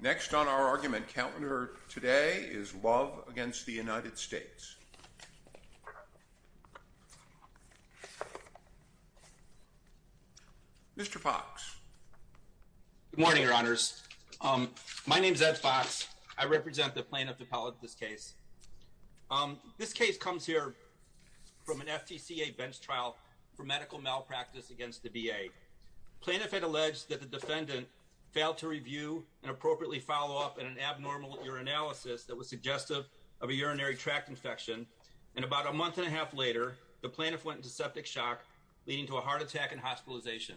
Next on our argument calendar today is Love v. United States. Mr. Fox. Good morning, Your Honors. My name is Ed Fox. I represent the plaintiff appellate this case. This case comes here from an FTCA bench trial for medical malpractice against the VA. Plaintiff had alleged that the defendant failed to review and appropriately follow up in an abnormal urinalysis that was suggestive of a urinary tract infection and about a month and a half later, the plaintiff went into septic shock leading to a heart attack and hospitalization.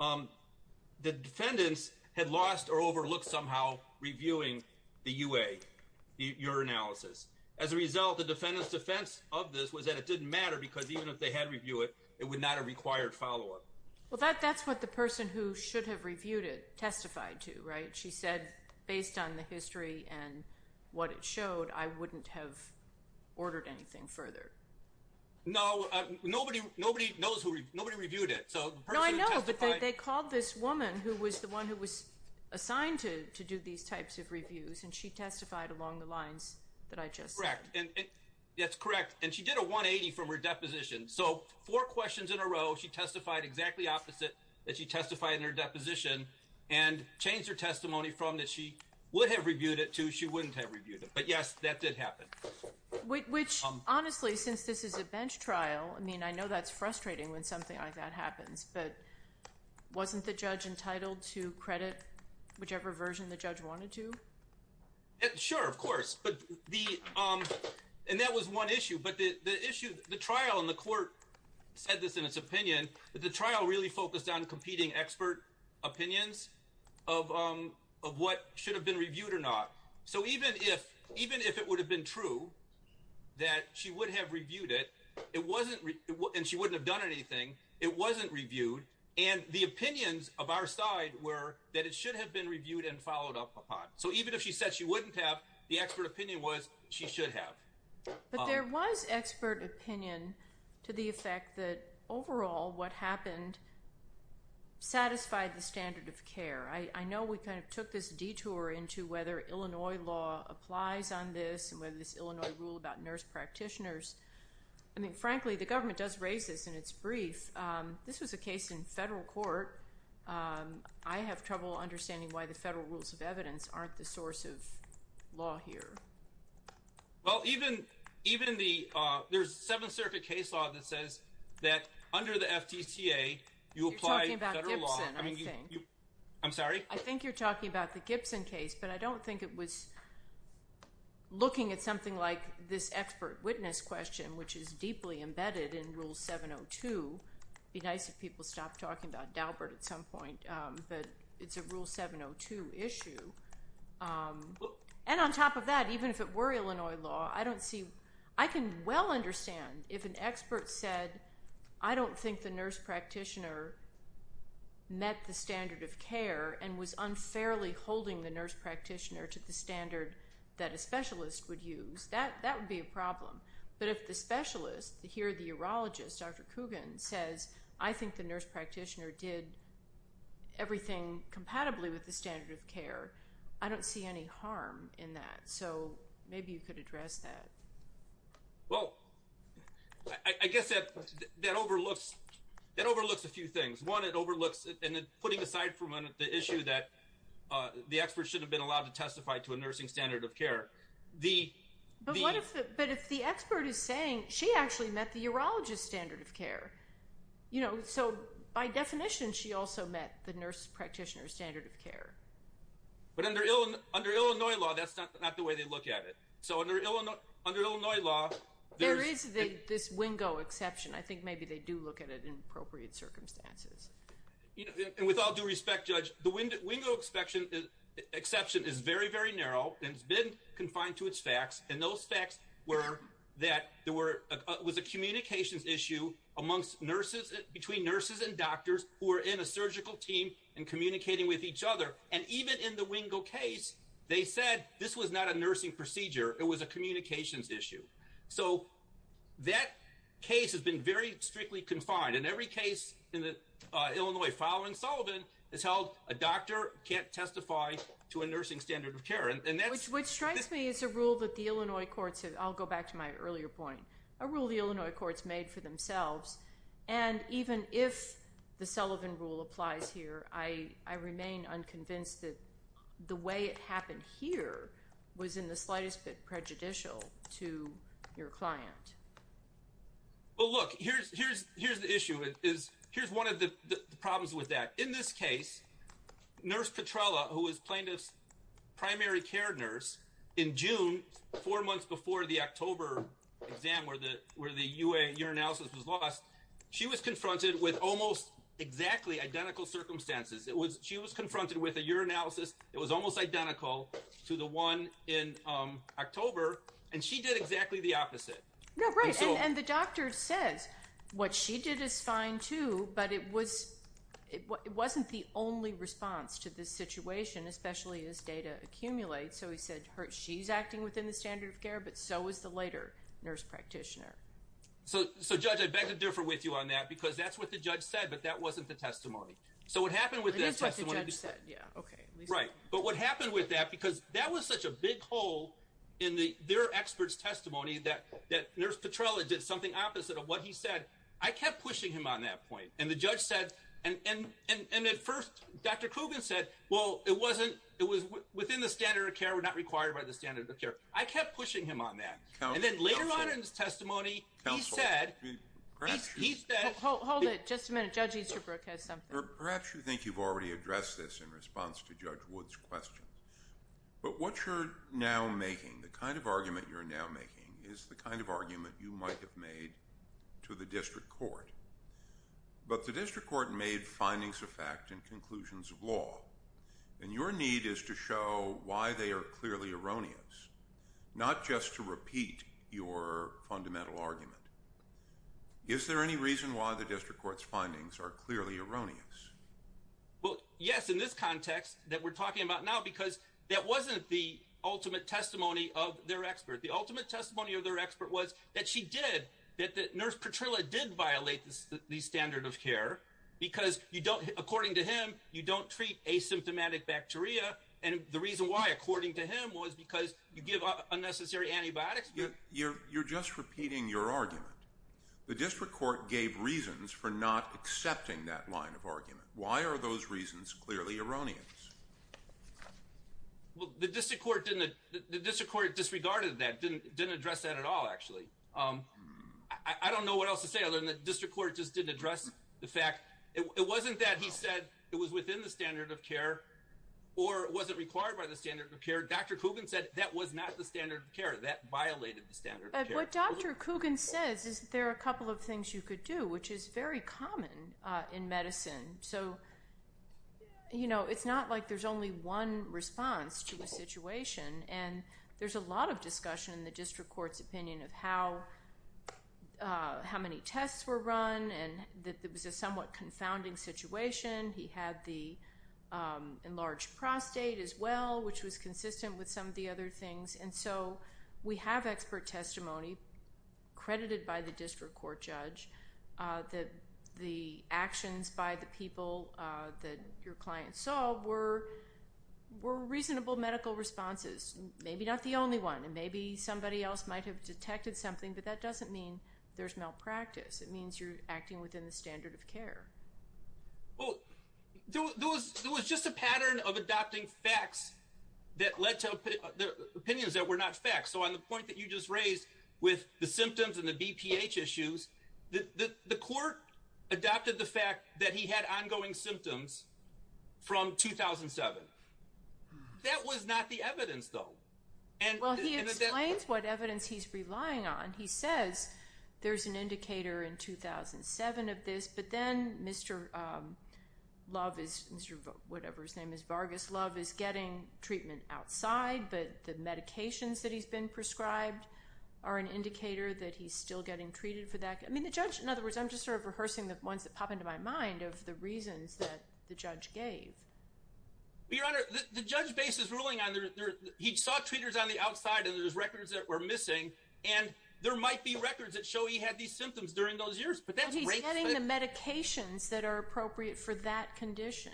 The defendants had lost or overlooked somehow reviewing the UA, the urinalysis. As a result, the defendant's defense of this was that it didn't matter because even if they had reviewed it, it would not have required follow-up. Well, that's what the person who should have reviewed it testified to, right? She said based on the history and what it showed, I wouldn't have ordered anything further. No, nobody knows who, nobody reviewed it. So the person who testified... No, I know, but they called this woman who was the one who was assigned to do these types of reviews and she testified along the lines that I just said. Correct. And that's correct. And she did a 180 from her deposition. So four questions in a row, she testified exactly opposite that she testified in her deposition and changed her testimony from that she would have reviewed it to she wouldn't have reviewed it. But yes, that did happen. Which, honestly, since this is a bench trial, I mean, I know that's frustrating when something like that happens, but wasn't the judge entitled to credit whichever version the judge wanted to? Sure, of course, and that was one issue. But the issue, the trial and the court said this in its opinion, that the trial really focused on competing expert opinions of what should have been reviewed or not. So even if it would have been true that she would have reviewed it, and she wouldn't have done anything, it wasn't reviewed. And the opinions of our side were that it should have been reviewed and followed up upon. So even if she said she wouldn't have, the expert opinion was she should have. But there was expert opinion to the effect that, overall, what happened satisfied the standard of care. I know we kind of took this detour into whether Illinois law applies on this and whether this Illinois rule about nurse practitioners. I mean, frankly, the government does raise this in its brief. This was a case in federal court. I have trouble understanding why the federal rules of evidence aren't the source of law here. Well, even the, there's a Seventh Circuit case law that says that under the FTCA, you apply federal law. You're talking about Gibson, I think. I'm sorry? I think you're talking about the Gibson case, but I don't think it was looking at something like this expert witness question, which is deeply embedded in Rule 702. Be nice if people stopped talking about Daubert at some point, but it's a Rule 702 issue. And on top of that, even if it were Illinois law, I don't see, I can well understand if an expert said, I don't think the nurse practitioner met the standard of care and was unfairly holding the nurse practitioner to the standard that a specialist would use. That would be a problem. But if the specialist, here the urologist, Dr. Coogan, says, I think the nurse practitioner did everything compatibly with the standard of care. I don't see any harm in that. So maybe you could address that. Well, I guess that overlooks a few things. One, it overlooks, and then putting aside for a minute the issue that the expert shouldn't have been allowed to testify to a nursing standard of care. But if the expert is saying she actually met the urologist standard of care, you know, so by definition, she also met the nurse practitioner standard of care. But under Illinois law, that's not the way they look at it. So under Illinois law, there is this WINGO exception. I think maybe they do look at it in appropriate circumstances. And with all due respect, Judge, the WINGO exception is very, very narrow and it's been confined to its facts. And those facts were that there was a communications issue amongst nurses, between nurses and doctors who are in a surgical team and communicating with each other. And even in the WINGO case, they said this was not a nursing procedure, it was a communications issue. So that case has been very strictly confined. In every case in Illinois following Sullivan, it's held a doctor can't testify to a nursing standard of care. Which strikes me as a rule that the Illinois courts have, I'll go back to my earlier point, a rule the Illinois courts made for themselves. And even if the Sullivan rule applies here, I remain unconvinced that the way it happened here was in the slightest bit prejudicial to your client. Well, look, here's the issue. Here's one of the problems with that. In this case, Nurse Petrella, who was plaintiff's primary care nurse in June, four months before the October exam where the urinalysis was lost, she was confronted with almost exactly identical circumstances. She was confronted with a urinalysis. It was almost identical to the one in October and she did exactly the opposite. No, right. And the doctor says what she did is fine too, but it wasn't the only response to this situation, especially as data accumulates. So he said she's acting within the standard of care, but so is the later nurse practitioner. So, Judge, I beg to differ with you on that because that's what the judge said, but that wasn't the testimony. So what happened with that testimony, right? But what happened with that because that was such a big hole in their expert's testimony that Nurse Petrella did something opposite of what he said. I kept pushing him on that point and the judge said, and at first, Dr. Coogan said, well, it was within the standard of care. We're not required by the standard of care. I kept pushing him on that. And then later on in his testimony, he said, hold it. Just a minute. Judge Easterbrook has something. Perhaps you think you've already addressed this in response to Judge Wood's question, but what you're now making the kind of argument you're now making is the kind of argument you might have made to the district court, but the district court made findings of fact and conclusions of law and your need is to show why they are clearly erroneous. Not just to repeat your fundamental argument. Is there any reason why the district court's findings are clearly erroneous? Well, yes, in this context that we're talking about now because that wasn't the ultimate testimony of their expert. The ultimate testimony of their expert was that she did that the nurse Petrella did violate the standard of care because you don't, according to him, you don't treat asymptomatic bacteria. And the reason why according to him was because you give unnecessary antibiotics. You're just repeating your argument. The district court gave reasons for not accepting that line of argument. Why are those reasons clearly erroneous? Well, the district court disregarded that, didn't address that at all. Actually, I don't know what else to say other than the district court just didn't address the fact. It wasn't that he said it was within the standard of care. Or was it required by the standard of care? Dr. Coogan said that was not the standard of care. That violated the standard of care. What Dr. Coogan says is there are a couple of things you could do, which is very common in medicine. So, you know, it's not like there's only one response to the situation. And there's a lot of discussion in the district court's opinion of how many tests were run and that there was a somewhat confounding situation. He had the enlarged prostate as well, which was consistent with some of the other things. And so we have expert testimony, credited by the district court judge, that the actions by the people that your client saw were reasonable medical responses. Maybe not the only one. And maybe somebody else might have detected something, but that doesn't mean there's malpractice. It means you're acting within the standard of care. Well, there was just a pattern of adopting facts that led to opinions that were not facts. So on the point that you just raised with the symptoms and the BPH issues, the court adopted the fact that he had ongoing symptoms from 2007. That was not the evidence, though. Well, he explains what evidence he's relying on. He says there's an indicator in 2007 of this, but then Mr. Love is, whatever his name is, Vargas Love, is getting treatment outside, but the medications that he's been prescribed are an indicator that he's still getting treated for that. I mean, the judge, in other words, I'm just sort of rehearsing the ones that pop into my mind of the reasons that the judge gave. Your Honor, the judge base is ruling on, he saw treaters on the outside and there's records that were missing and there might be records that show he had these symptoms during those years. But he's getting the medications that are appropriate for that condition.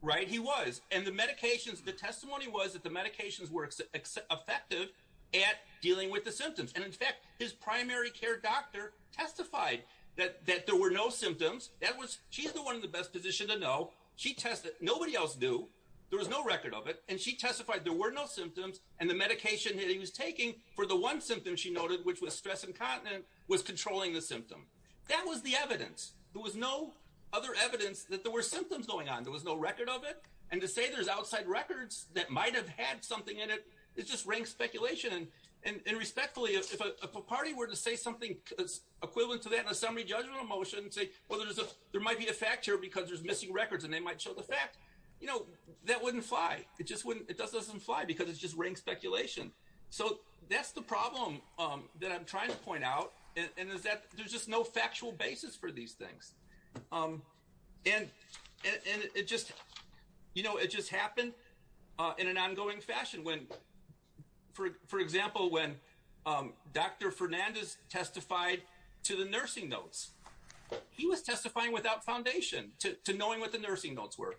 Right. He was, and the medications, the testimony was that the medications were effective at dealing with the symptoms. And in fact, his primary care doctor testified that there were no symptoms. That was, she's the one in the best position to know. She tested, nobody else knew. There was no record of it. And she testified there were no symptoms and the medication that he was taking for the one symptom she noted, which was stress incontinent, was controlling the symptom. That was the evidence. There was no other evidence that there were symptoms going on. There was no record of it. And to say there's outside records that might have had something in it. It's just rank speculation and respectfully, if a party were to say something equivalent to that in a summary judgment motion, say, well, there's a, there might be a fact here because there's missing records and they might show the fact, you know, that wouldn't fly. It just wouldn't, it doesn't fly because it's just rank speculation. So that's the problem that I'm trying to point out. And is that there's just no factual basis for these things. And it just, you know, it just happened in an ongoing fashion when, for example, when Dr. Fernandez testified to the nursing notes, he was testifying without foundation to knowing what the nursing notes were.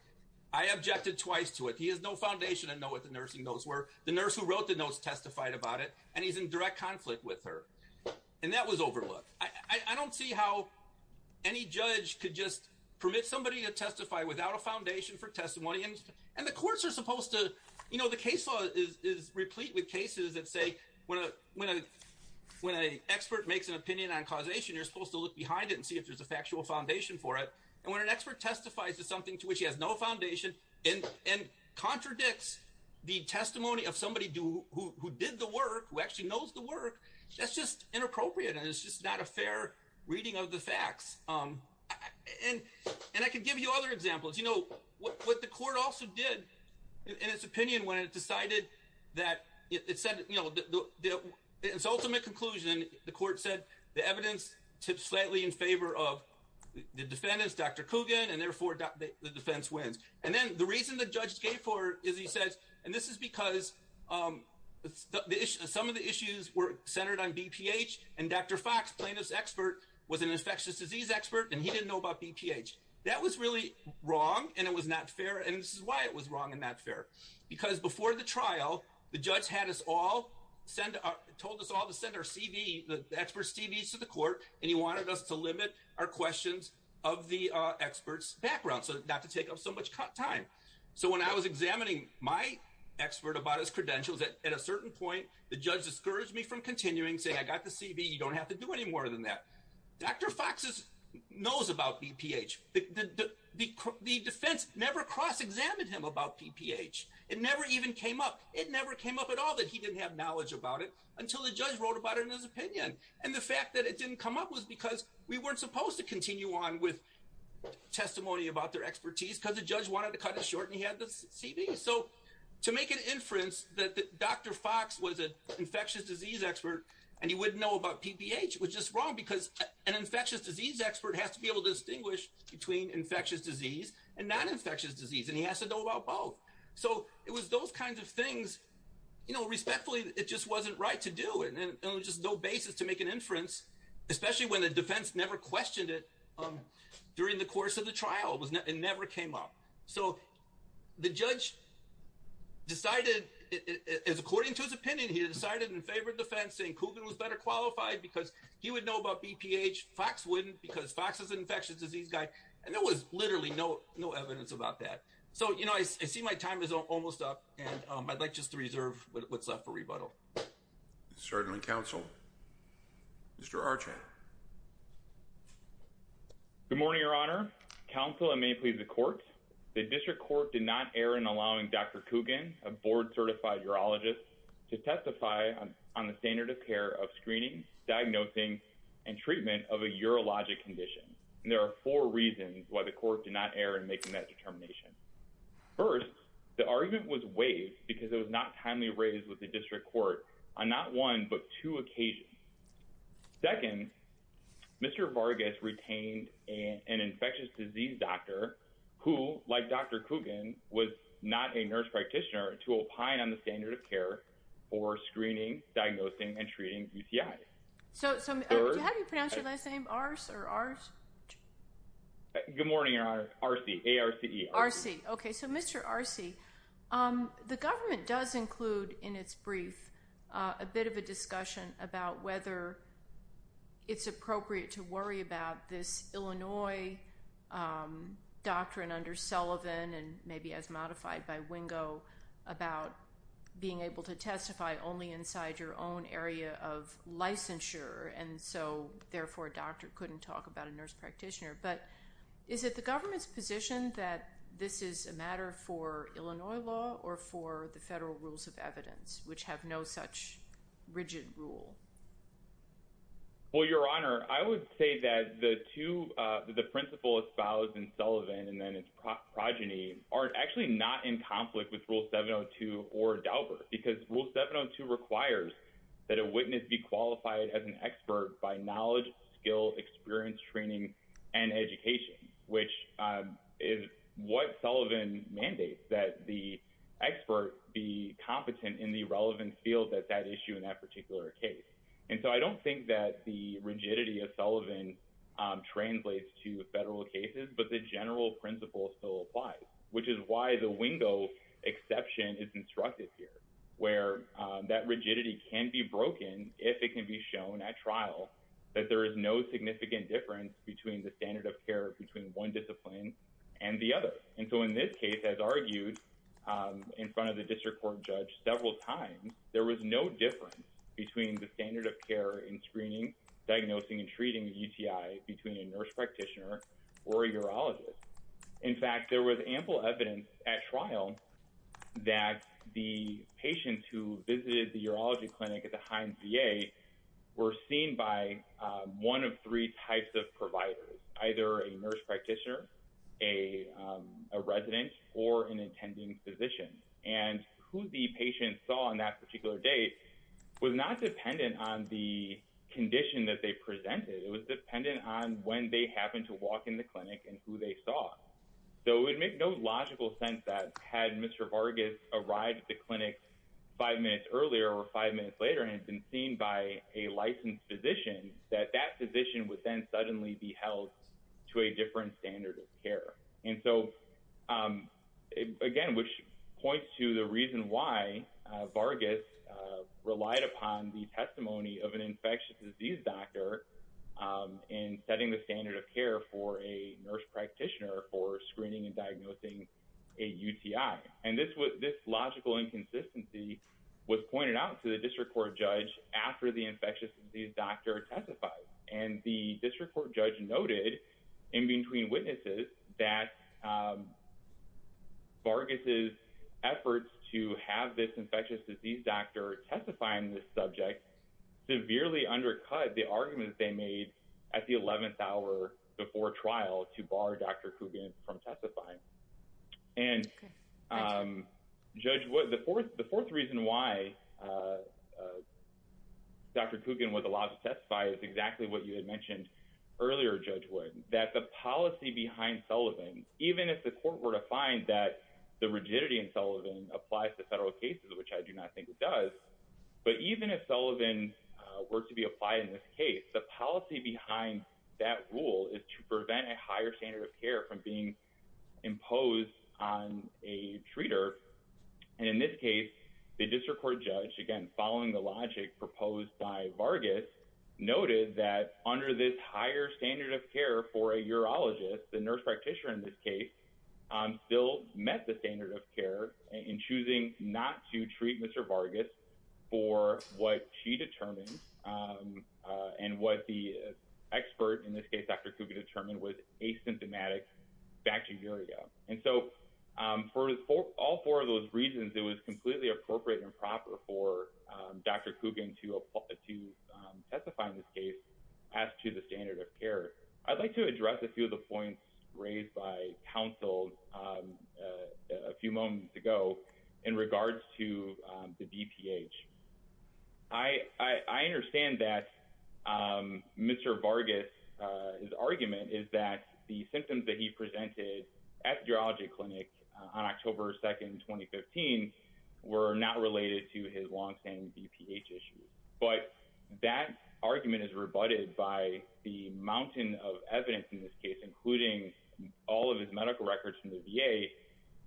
I objected twice to it. He has no foundation to know what the nursing notes were. The nurse who wrote the notes testified about it and he's in direct conflict with her. And that was overlooked. I don't see how any judge could just permit somebody to testify without a foundation for testimony and the courts are supposed to, you know, the case law is replete with cases that say when an expert makes an opinion on causation, you're supposed to look behind it and see if there's a factual foundation for it. And when an expert testifies to something to which he has no foundation and contradicts the testimony of somebody who did the work, who actually knows the work, that's just inappropriate and it's just not a fair reading of the facts. And I can give you other examples, you know, what the court also did in its opinion when it decided that it said, you know, the ultimate conclusion, the court said the evidence tips slightly in favor of the defendants, Dr. Coogan, and therefore the defense wins. And then the reason the judge gave for it is he says, and this is because some of the issues were centered on BPH and Dr. Fox plaintiff's expert was an infectious disease expert and he didn't know about BPH. That was really wrong and it was not fair. And this is why it was wrong and not fair because before the trial, the judge had us all, told us all to send our CV, the expert's CV to the court and he wanted us to limit our questions of the expert's background. So not to take up so much time. So when I was examining my expert about his credentials at a certain point, the judge discouraged me from continuing saying I got the CV. You don't have to do any more than that. Dr. Fox's knows about BPH. The defense never cross-examined him about BPH. It never even came up. It never came up at all that he didn't have knowledge about it until the judge wrote about it in his opinion. And the fact that it didn't come up was because we weren't supposed to continue on with testimony about their expertise because the judge wanted to cut it short and he had the CV. So to make an inference that Dr. Fox was an infectious disease expert and he wouldn't know about BPH was just wrong because an infectious disease expert has to be able to distinguish between infectious disease and non-infectious disease and he has to know about both. So it was those kinds of things, you know, respectfully it just wasn't right to do it and it was just no basis to make an inference, especially when the defense never questioned it during the course of the trial. It never came up. So the judge decided, according to his opinion, he decided in favor of defense saying Coogan was better qualified because he would know about BPH. Fox wouldn't because Fox is an infectious disease guy and there was literally no evidence about that. So, you know, I see my time is almost up and I'd like just to reserve what's left for rebuttal. Certainly, counsel. Mr. Archer. Good morning, your honor. Counsel, I may plead the court. The district court did not err in allowing Dr. Coogan, a board-certified urologist, to testify on the standard of care of screening, diagnosing, and treatment of a urologic condition. There are four reasons why the court did not err in making that determination. First, the argument was waived because it was not timely raised with the district court on not one but two occasions. Second, Mr. Vargas retained an infectious disease doctor who, like Dr. Coogan, was not a nurse practitioner to opine on the standard of care for screening, diagnosing, and treating UCI. So, how do you pronounce your last name? Arce or Arce? Good morning, your honor. Arce, A-R-C-E. Arce, okay. So, Mr. Arce, the government does include in its brief a bit of a discussion about whether it's appropriate to worry about this Illinois doctrine under Sullivan and maybe as modified by Wingo about being able to testify only inside your own area of licensure. And so, therefore, a doctor couldn't talk about a nurse practitioner. But is it the government's position that this is a matter for Illinois law or for the federal rules of evidence, which have no such rigid rule? Well, your honor, I would say that the two, the principal espoused in Sullivan and then its progeny, are actually not in conflict with Rule 702 or Daubert because Rule 702 requires that a witness be qualified as an expert by knowledge, skill, experience, training, and education, which is what Sullivan mandates, that the expert be competent in the relevant field at that issue in that particular case. And so, I don't think that the rigidity of Sullivan translates to federal cases, but the general principle still applies, which is why the Wingo exception is instructed here, where that rigidity can be broken if it can be shown at trial that there is no significant difference between the standard of care between one discipline and the other. And so, in this case, as argued in front of the district court judge several times, there was no difference between the standard of care in screening, diagnosing, and treating UTI between a nurse practitioner or a urologist. In fact, there was ample evidence at trial that the patient who visited the urology clinic at the Heinz VA were seen by one of three types of providers, either a nurse practitioner, a resident, or an attending physician. And who the patient saw on that particular day was not dependent on the condition that they presented. It was dependent on when they happened to walk in the clinic and who they saw. So, it would make no logical sense that had Mr. Vargas arrived at the clinic five minutes earlier or five minutes later and had been seen by a licensed physician, that that physician would then suddenly be held to a different standard of care. And so, again, which points to the reason why Vargas relied upon the testimony of an infectious disease doctor in setting the standard of care for a nurse practitioner for screening and diagnosing a UTI. And this logical inconsistency was pointed out to the district court judge after the infectious disease doctor testified. And the district court judge noted in between witnesses that Vargas' efforts to have this infectious disease doctor testifying this subject severely undercut the argument they made at the 11th hour before trial to bar Dr. Kugin from testifying. And judge, the fourth reason why Dr. Kugin did not testify, which is exactly what you had mentioned earlier, Judge Wood, that the policy behind Sullivan, even if the court were to find that the rigidity in Sullivan applies to federal cases, which I do not think it does, but even if Sullivan were to be applied in this case, the policy behind that rule is to prevent a higher standard of care from being imposed on a treater. And in this case, the district court judge, again, following the logic proposed by Vargas, noted that under this higher standard of care for a urologist, the nurse practitioner in this case, still met the standard of care in choosing not to treat Mr. Vargas for what she determined and what the expert, in this case, Dr. Kugin, determined was asymptomatic bacteria. And so for all four of those reasons, it was completely appropriate and proper for Dr. Kugin to testify in this case as to the standard of care. I'd like to address a few of the points raised by counsel a few moments ago in regards to the BPH. I understand that Mr. Vargas, his argument is that the symptoms that he presented at the urology clinic on October 2nd, 2015, were not related to his long-standing BPH issues. But that argument is rebutted by the mountain of evidence in this case, including all of his medical records from the VA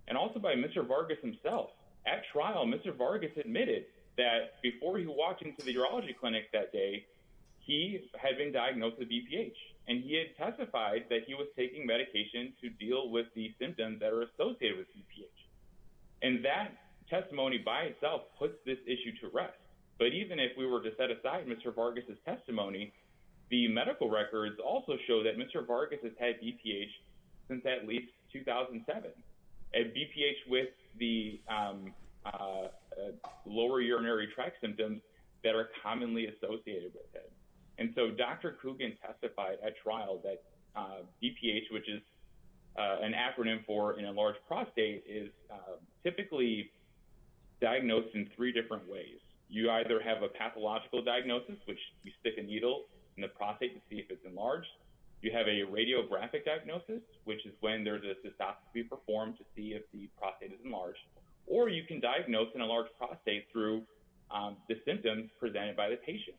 and also by Mr. Vargas himself. At trial, Mr. Vargas admitted that before he walked into the urology clinic that day, he had been diagnosed with BPH and he had testified that he was taking medication to deal with the symptoms that are associated with BPH. And that testimony by itself puts this issue to rest. But even if we were to set aside Mr. Vargas' testimony, the medical records also show that Mr. Vargas has had BPH since at least 2007, and BPH with the lower urinary tract symptoms that are commonly associated with it. And so Dr. Coogan testified at trial that BPH, which is an acronym for an enlarged prostate, is typically diagnosed in three different ways. You either have a pathological diagnosis, which you stick a needle in the prostate to see if it's enlarged. You have a radiographic diagnosis, which is when there's a cystoscopy performed to see if the prostate is enlarged, or you can diagnose an enlarged prostate through the symptoms presented by the patient.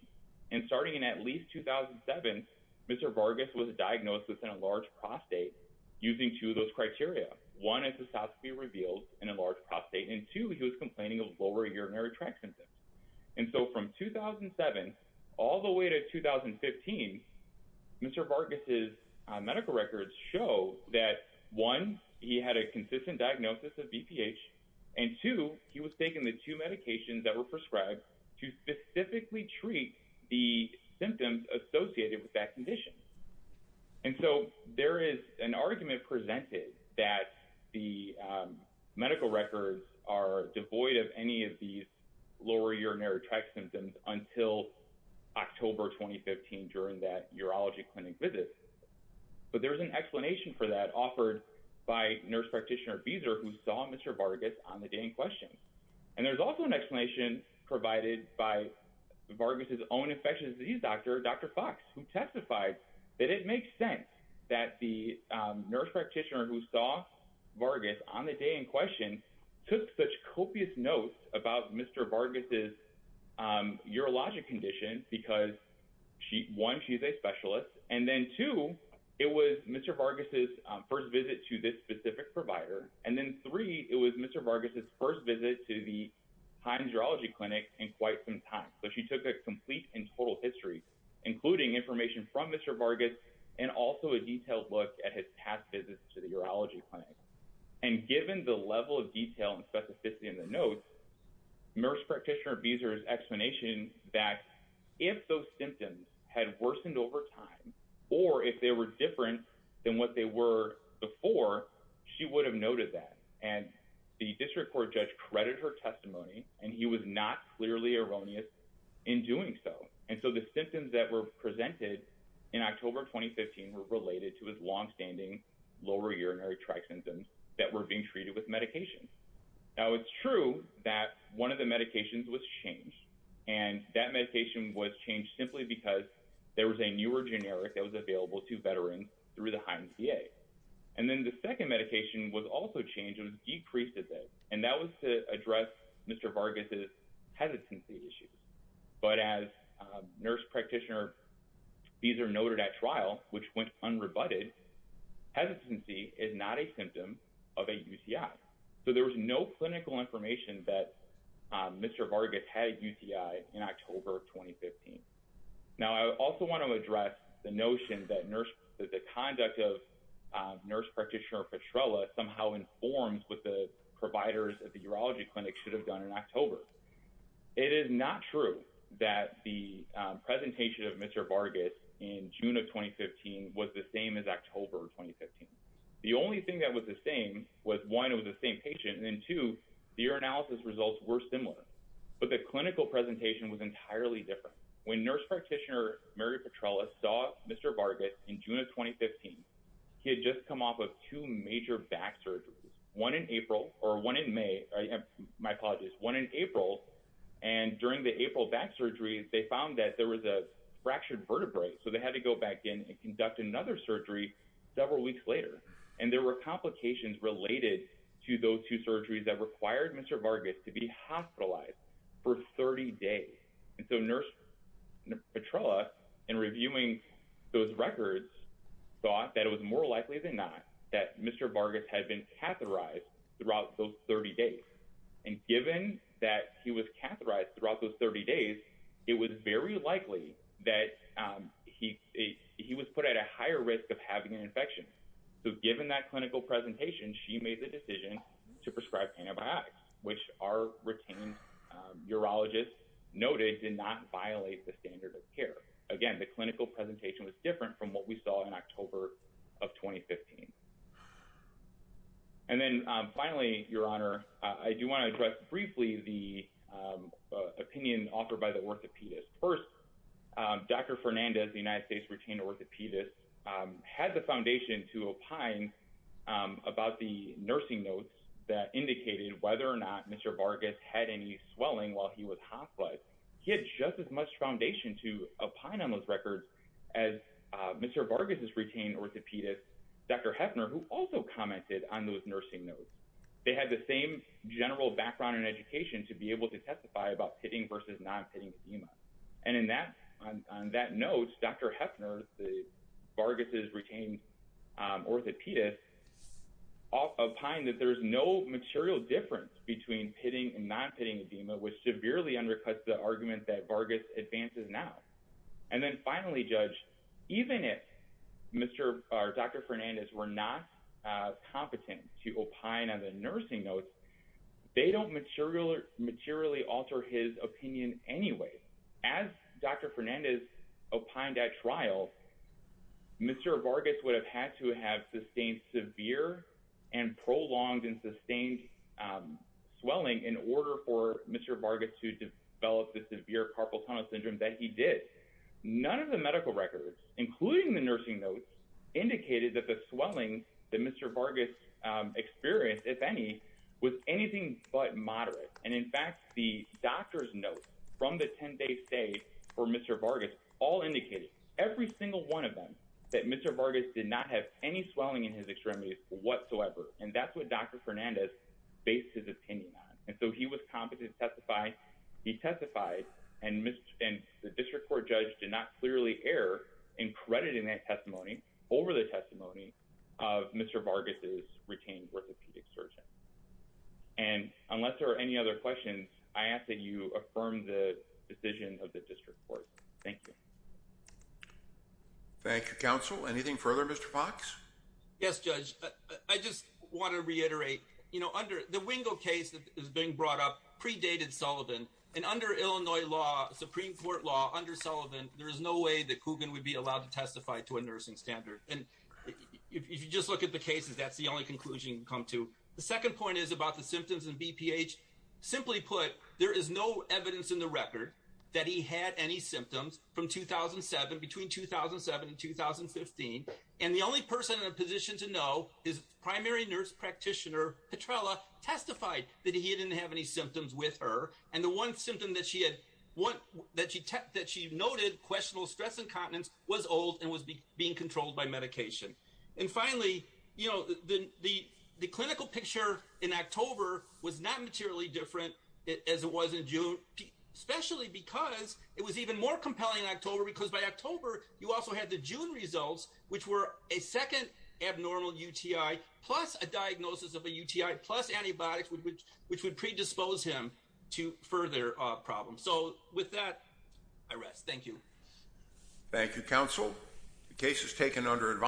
And starting in at least 2007, Mr. Vargas was diagnosed with enlarged prostate using two of those criteria. One, a cystoscopy revealed an enlarged prostate, and two, he was complaining of lower urinary tract symptoms. And so from 2007 all the way to 2015, Mr. Vargas' medical records show that one, he had a consistent diagnosis of BPH, and two, he was taking the two medications that were prescribed to specifically treat the symptoms associated with that condition. And so there is an argument presented that the medical records are devoid of any of these lower urinary tract symptoms until October 2015 during that urology clinic visit. But there's an explanation for that offered by nurse practitioner Beeser who saw Mr. Vargas on the day in question. And there's also an explanation provided by Vargas' own infectious disease doctor, Dr. Fox, who testified that it makes sense that the nurse practitioner who saw Vargas on the day in question took such copious notes about Mr. Vargas' urologic condition because one, she's a specialist. And then two, it was Mr. Vargas' first visit to this specific provider. And then three, it was Mr. Vargas' first visit to the Hynes Urology Clinic in quite some time. So she took a complete and total history, including information from Mr. Vargas and also a detailed look at his past visits to the urology clinic. And given the level of detail and specificity in the notes, nurse practitioner Beeser's explanation that if those symptoms had worsened over time, or if they were different than what they were before, she would have noted that. And the district court judge credited her testimony and he was not clearly erroneous in doing so. And so the symptoms that were presented in October 2015 were related to his long-standing lower urinary tract symptoms that were being treated with medication. Now, it's true that one of the medications was changed and that medication was changed simply because there was a newer generic that was available to veterans through the Hynes VA. And then the second medication was also changed. It was decreased a bit and that was to address Mr. Vargas' hesitancy issues. But as nurse practitioner Beeser noted at trial, which went unrebutted, hesitancy is not a symptom of a UCI. So there was no clinical information that Mr. Vargas had a UCI in October of 2015. Now, I also want to address the notion that the conduct of nurse practitioner Petrella somehow informed what the providers at the urology clinic should have done in October. It is not true that the presentation of Mr. Vargas in June of 2015 was the same as October 2015. The only thing that was the same was one, it was the same patient and two, the urinalysis results were similar, but the clinical presentation was entirely different. When nurse practitioner Mary Petrella saw Mr. Vargas in June of 2015, he had just come off of two major back surgeries, one in April or one in May, my apologies, one in April. And during the April back surgery, they found that there was a fractured vertebrae. So they had to go back in and conduct another surgery several weeks later. And there were complications related to those two surgeries that required Mr. Vargas to be hospitalized for 30 days. And so nurse Petrella in reviewing those records thought that it was more likely than not that Mr. Vargas had been catheterized throughout those 30 days. And given that he was catheterized throughout those 30 days, it was very likely that he was put at a higher risk of having an infection. So given that clinical presentation, she made the decision to prescribe antibiotics, which our retained urologists noted did not violate the standard of care. Again, the clinical presentation was different from what we saw in October of 2015. And then finally, Your Honor, I do want to address briefly the opinion offered by the orthopedist. First, Dr. Fernandez, the United States retained orthopedist, had the foundation to opine about the nursing notes that indicated whether or not Mr. Vargas had any swelling while he was hospitalized. He had just as much foundation to opine on those records as Mr. Vargas's retained orthopedist, Dr. Hefner, who also commented on those nursing notes. They had the same general background and education to be able to testify about pitting versus not pitting edema. And on that note, Dr. Hefner, Vargas's retained orthopedist, opined that there's no material difference between pitting and not pitting edema, which severely undercuts the argument that Vargas advances now. And then finally, Judge, even if Dr. Fernandez were not competent to opine on the nursing notes, they don't materially alter his opinion anyway. As Dr. Fernandez opined at trial, Mr. Vargas would have had to have sustained severe and prolonged and sustained swelling in order for Mr. Vargas to develop the severe carpal tunnel syndrome that he did. None of the medical records, including the nursing notes, indicated that the swelling that Mr. Vargas experienced, if any, was anything but moderate. And in fact, the doctor's notes from the 10-day stay for Mr. Vargas all indicated, every single one of them, that Mr. Vargas did not have any swelling in his extremities whatsoever. And that's what Dr. Fernandez based his opinion on. And so he was competent to testify. He testified, and the district court judge did not clearly err in crediting that testimony over the testimony of Mr. Vargas's retained orthopedic surgeon. And unless there are any other questions, I ask that you affirm the decision of the district court. Thank you. Thank you, Counsel. Anything further, Mr. Fox? Yes, Judge. I just want to reiterate, you know, under the Wingo case that is being brought up predated Sullivan. And under Illinois law, Supreme Court law, under Sullivan, there is no way that Coogan would be allowed to testify to a nursing standard. And if you just look at the cases, that's the only conclusion you can come to. The second point is about the symptoms and BPH. Simply put, there is no evidence in the record that he had any symptoms from 2007, between 2007 and 2015. And the only person in a position to know is primary nurse practitioner Petrella testified that he didn't have any symptoms with her. And the one symptom that she had, that she noted questionable stress incontinence was old and was being controlled by medication. And finally, you know, the clinical picture in October was not materially different as it was in June, especially because it was even more compelling in October. Because by October, you also had the June results, which were a second abnormal UTI plus a diagnosis of a UTI plus antibiotics, which would predispose him to further problems. So with that, I rest. Thank you. Thank you, counsel. The case is taken under advice.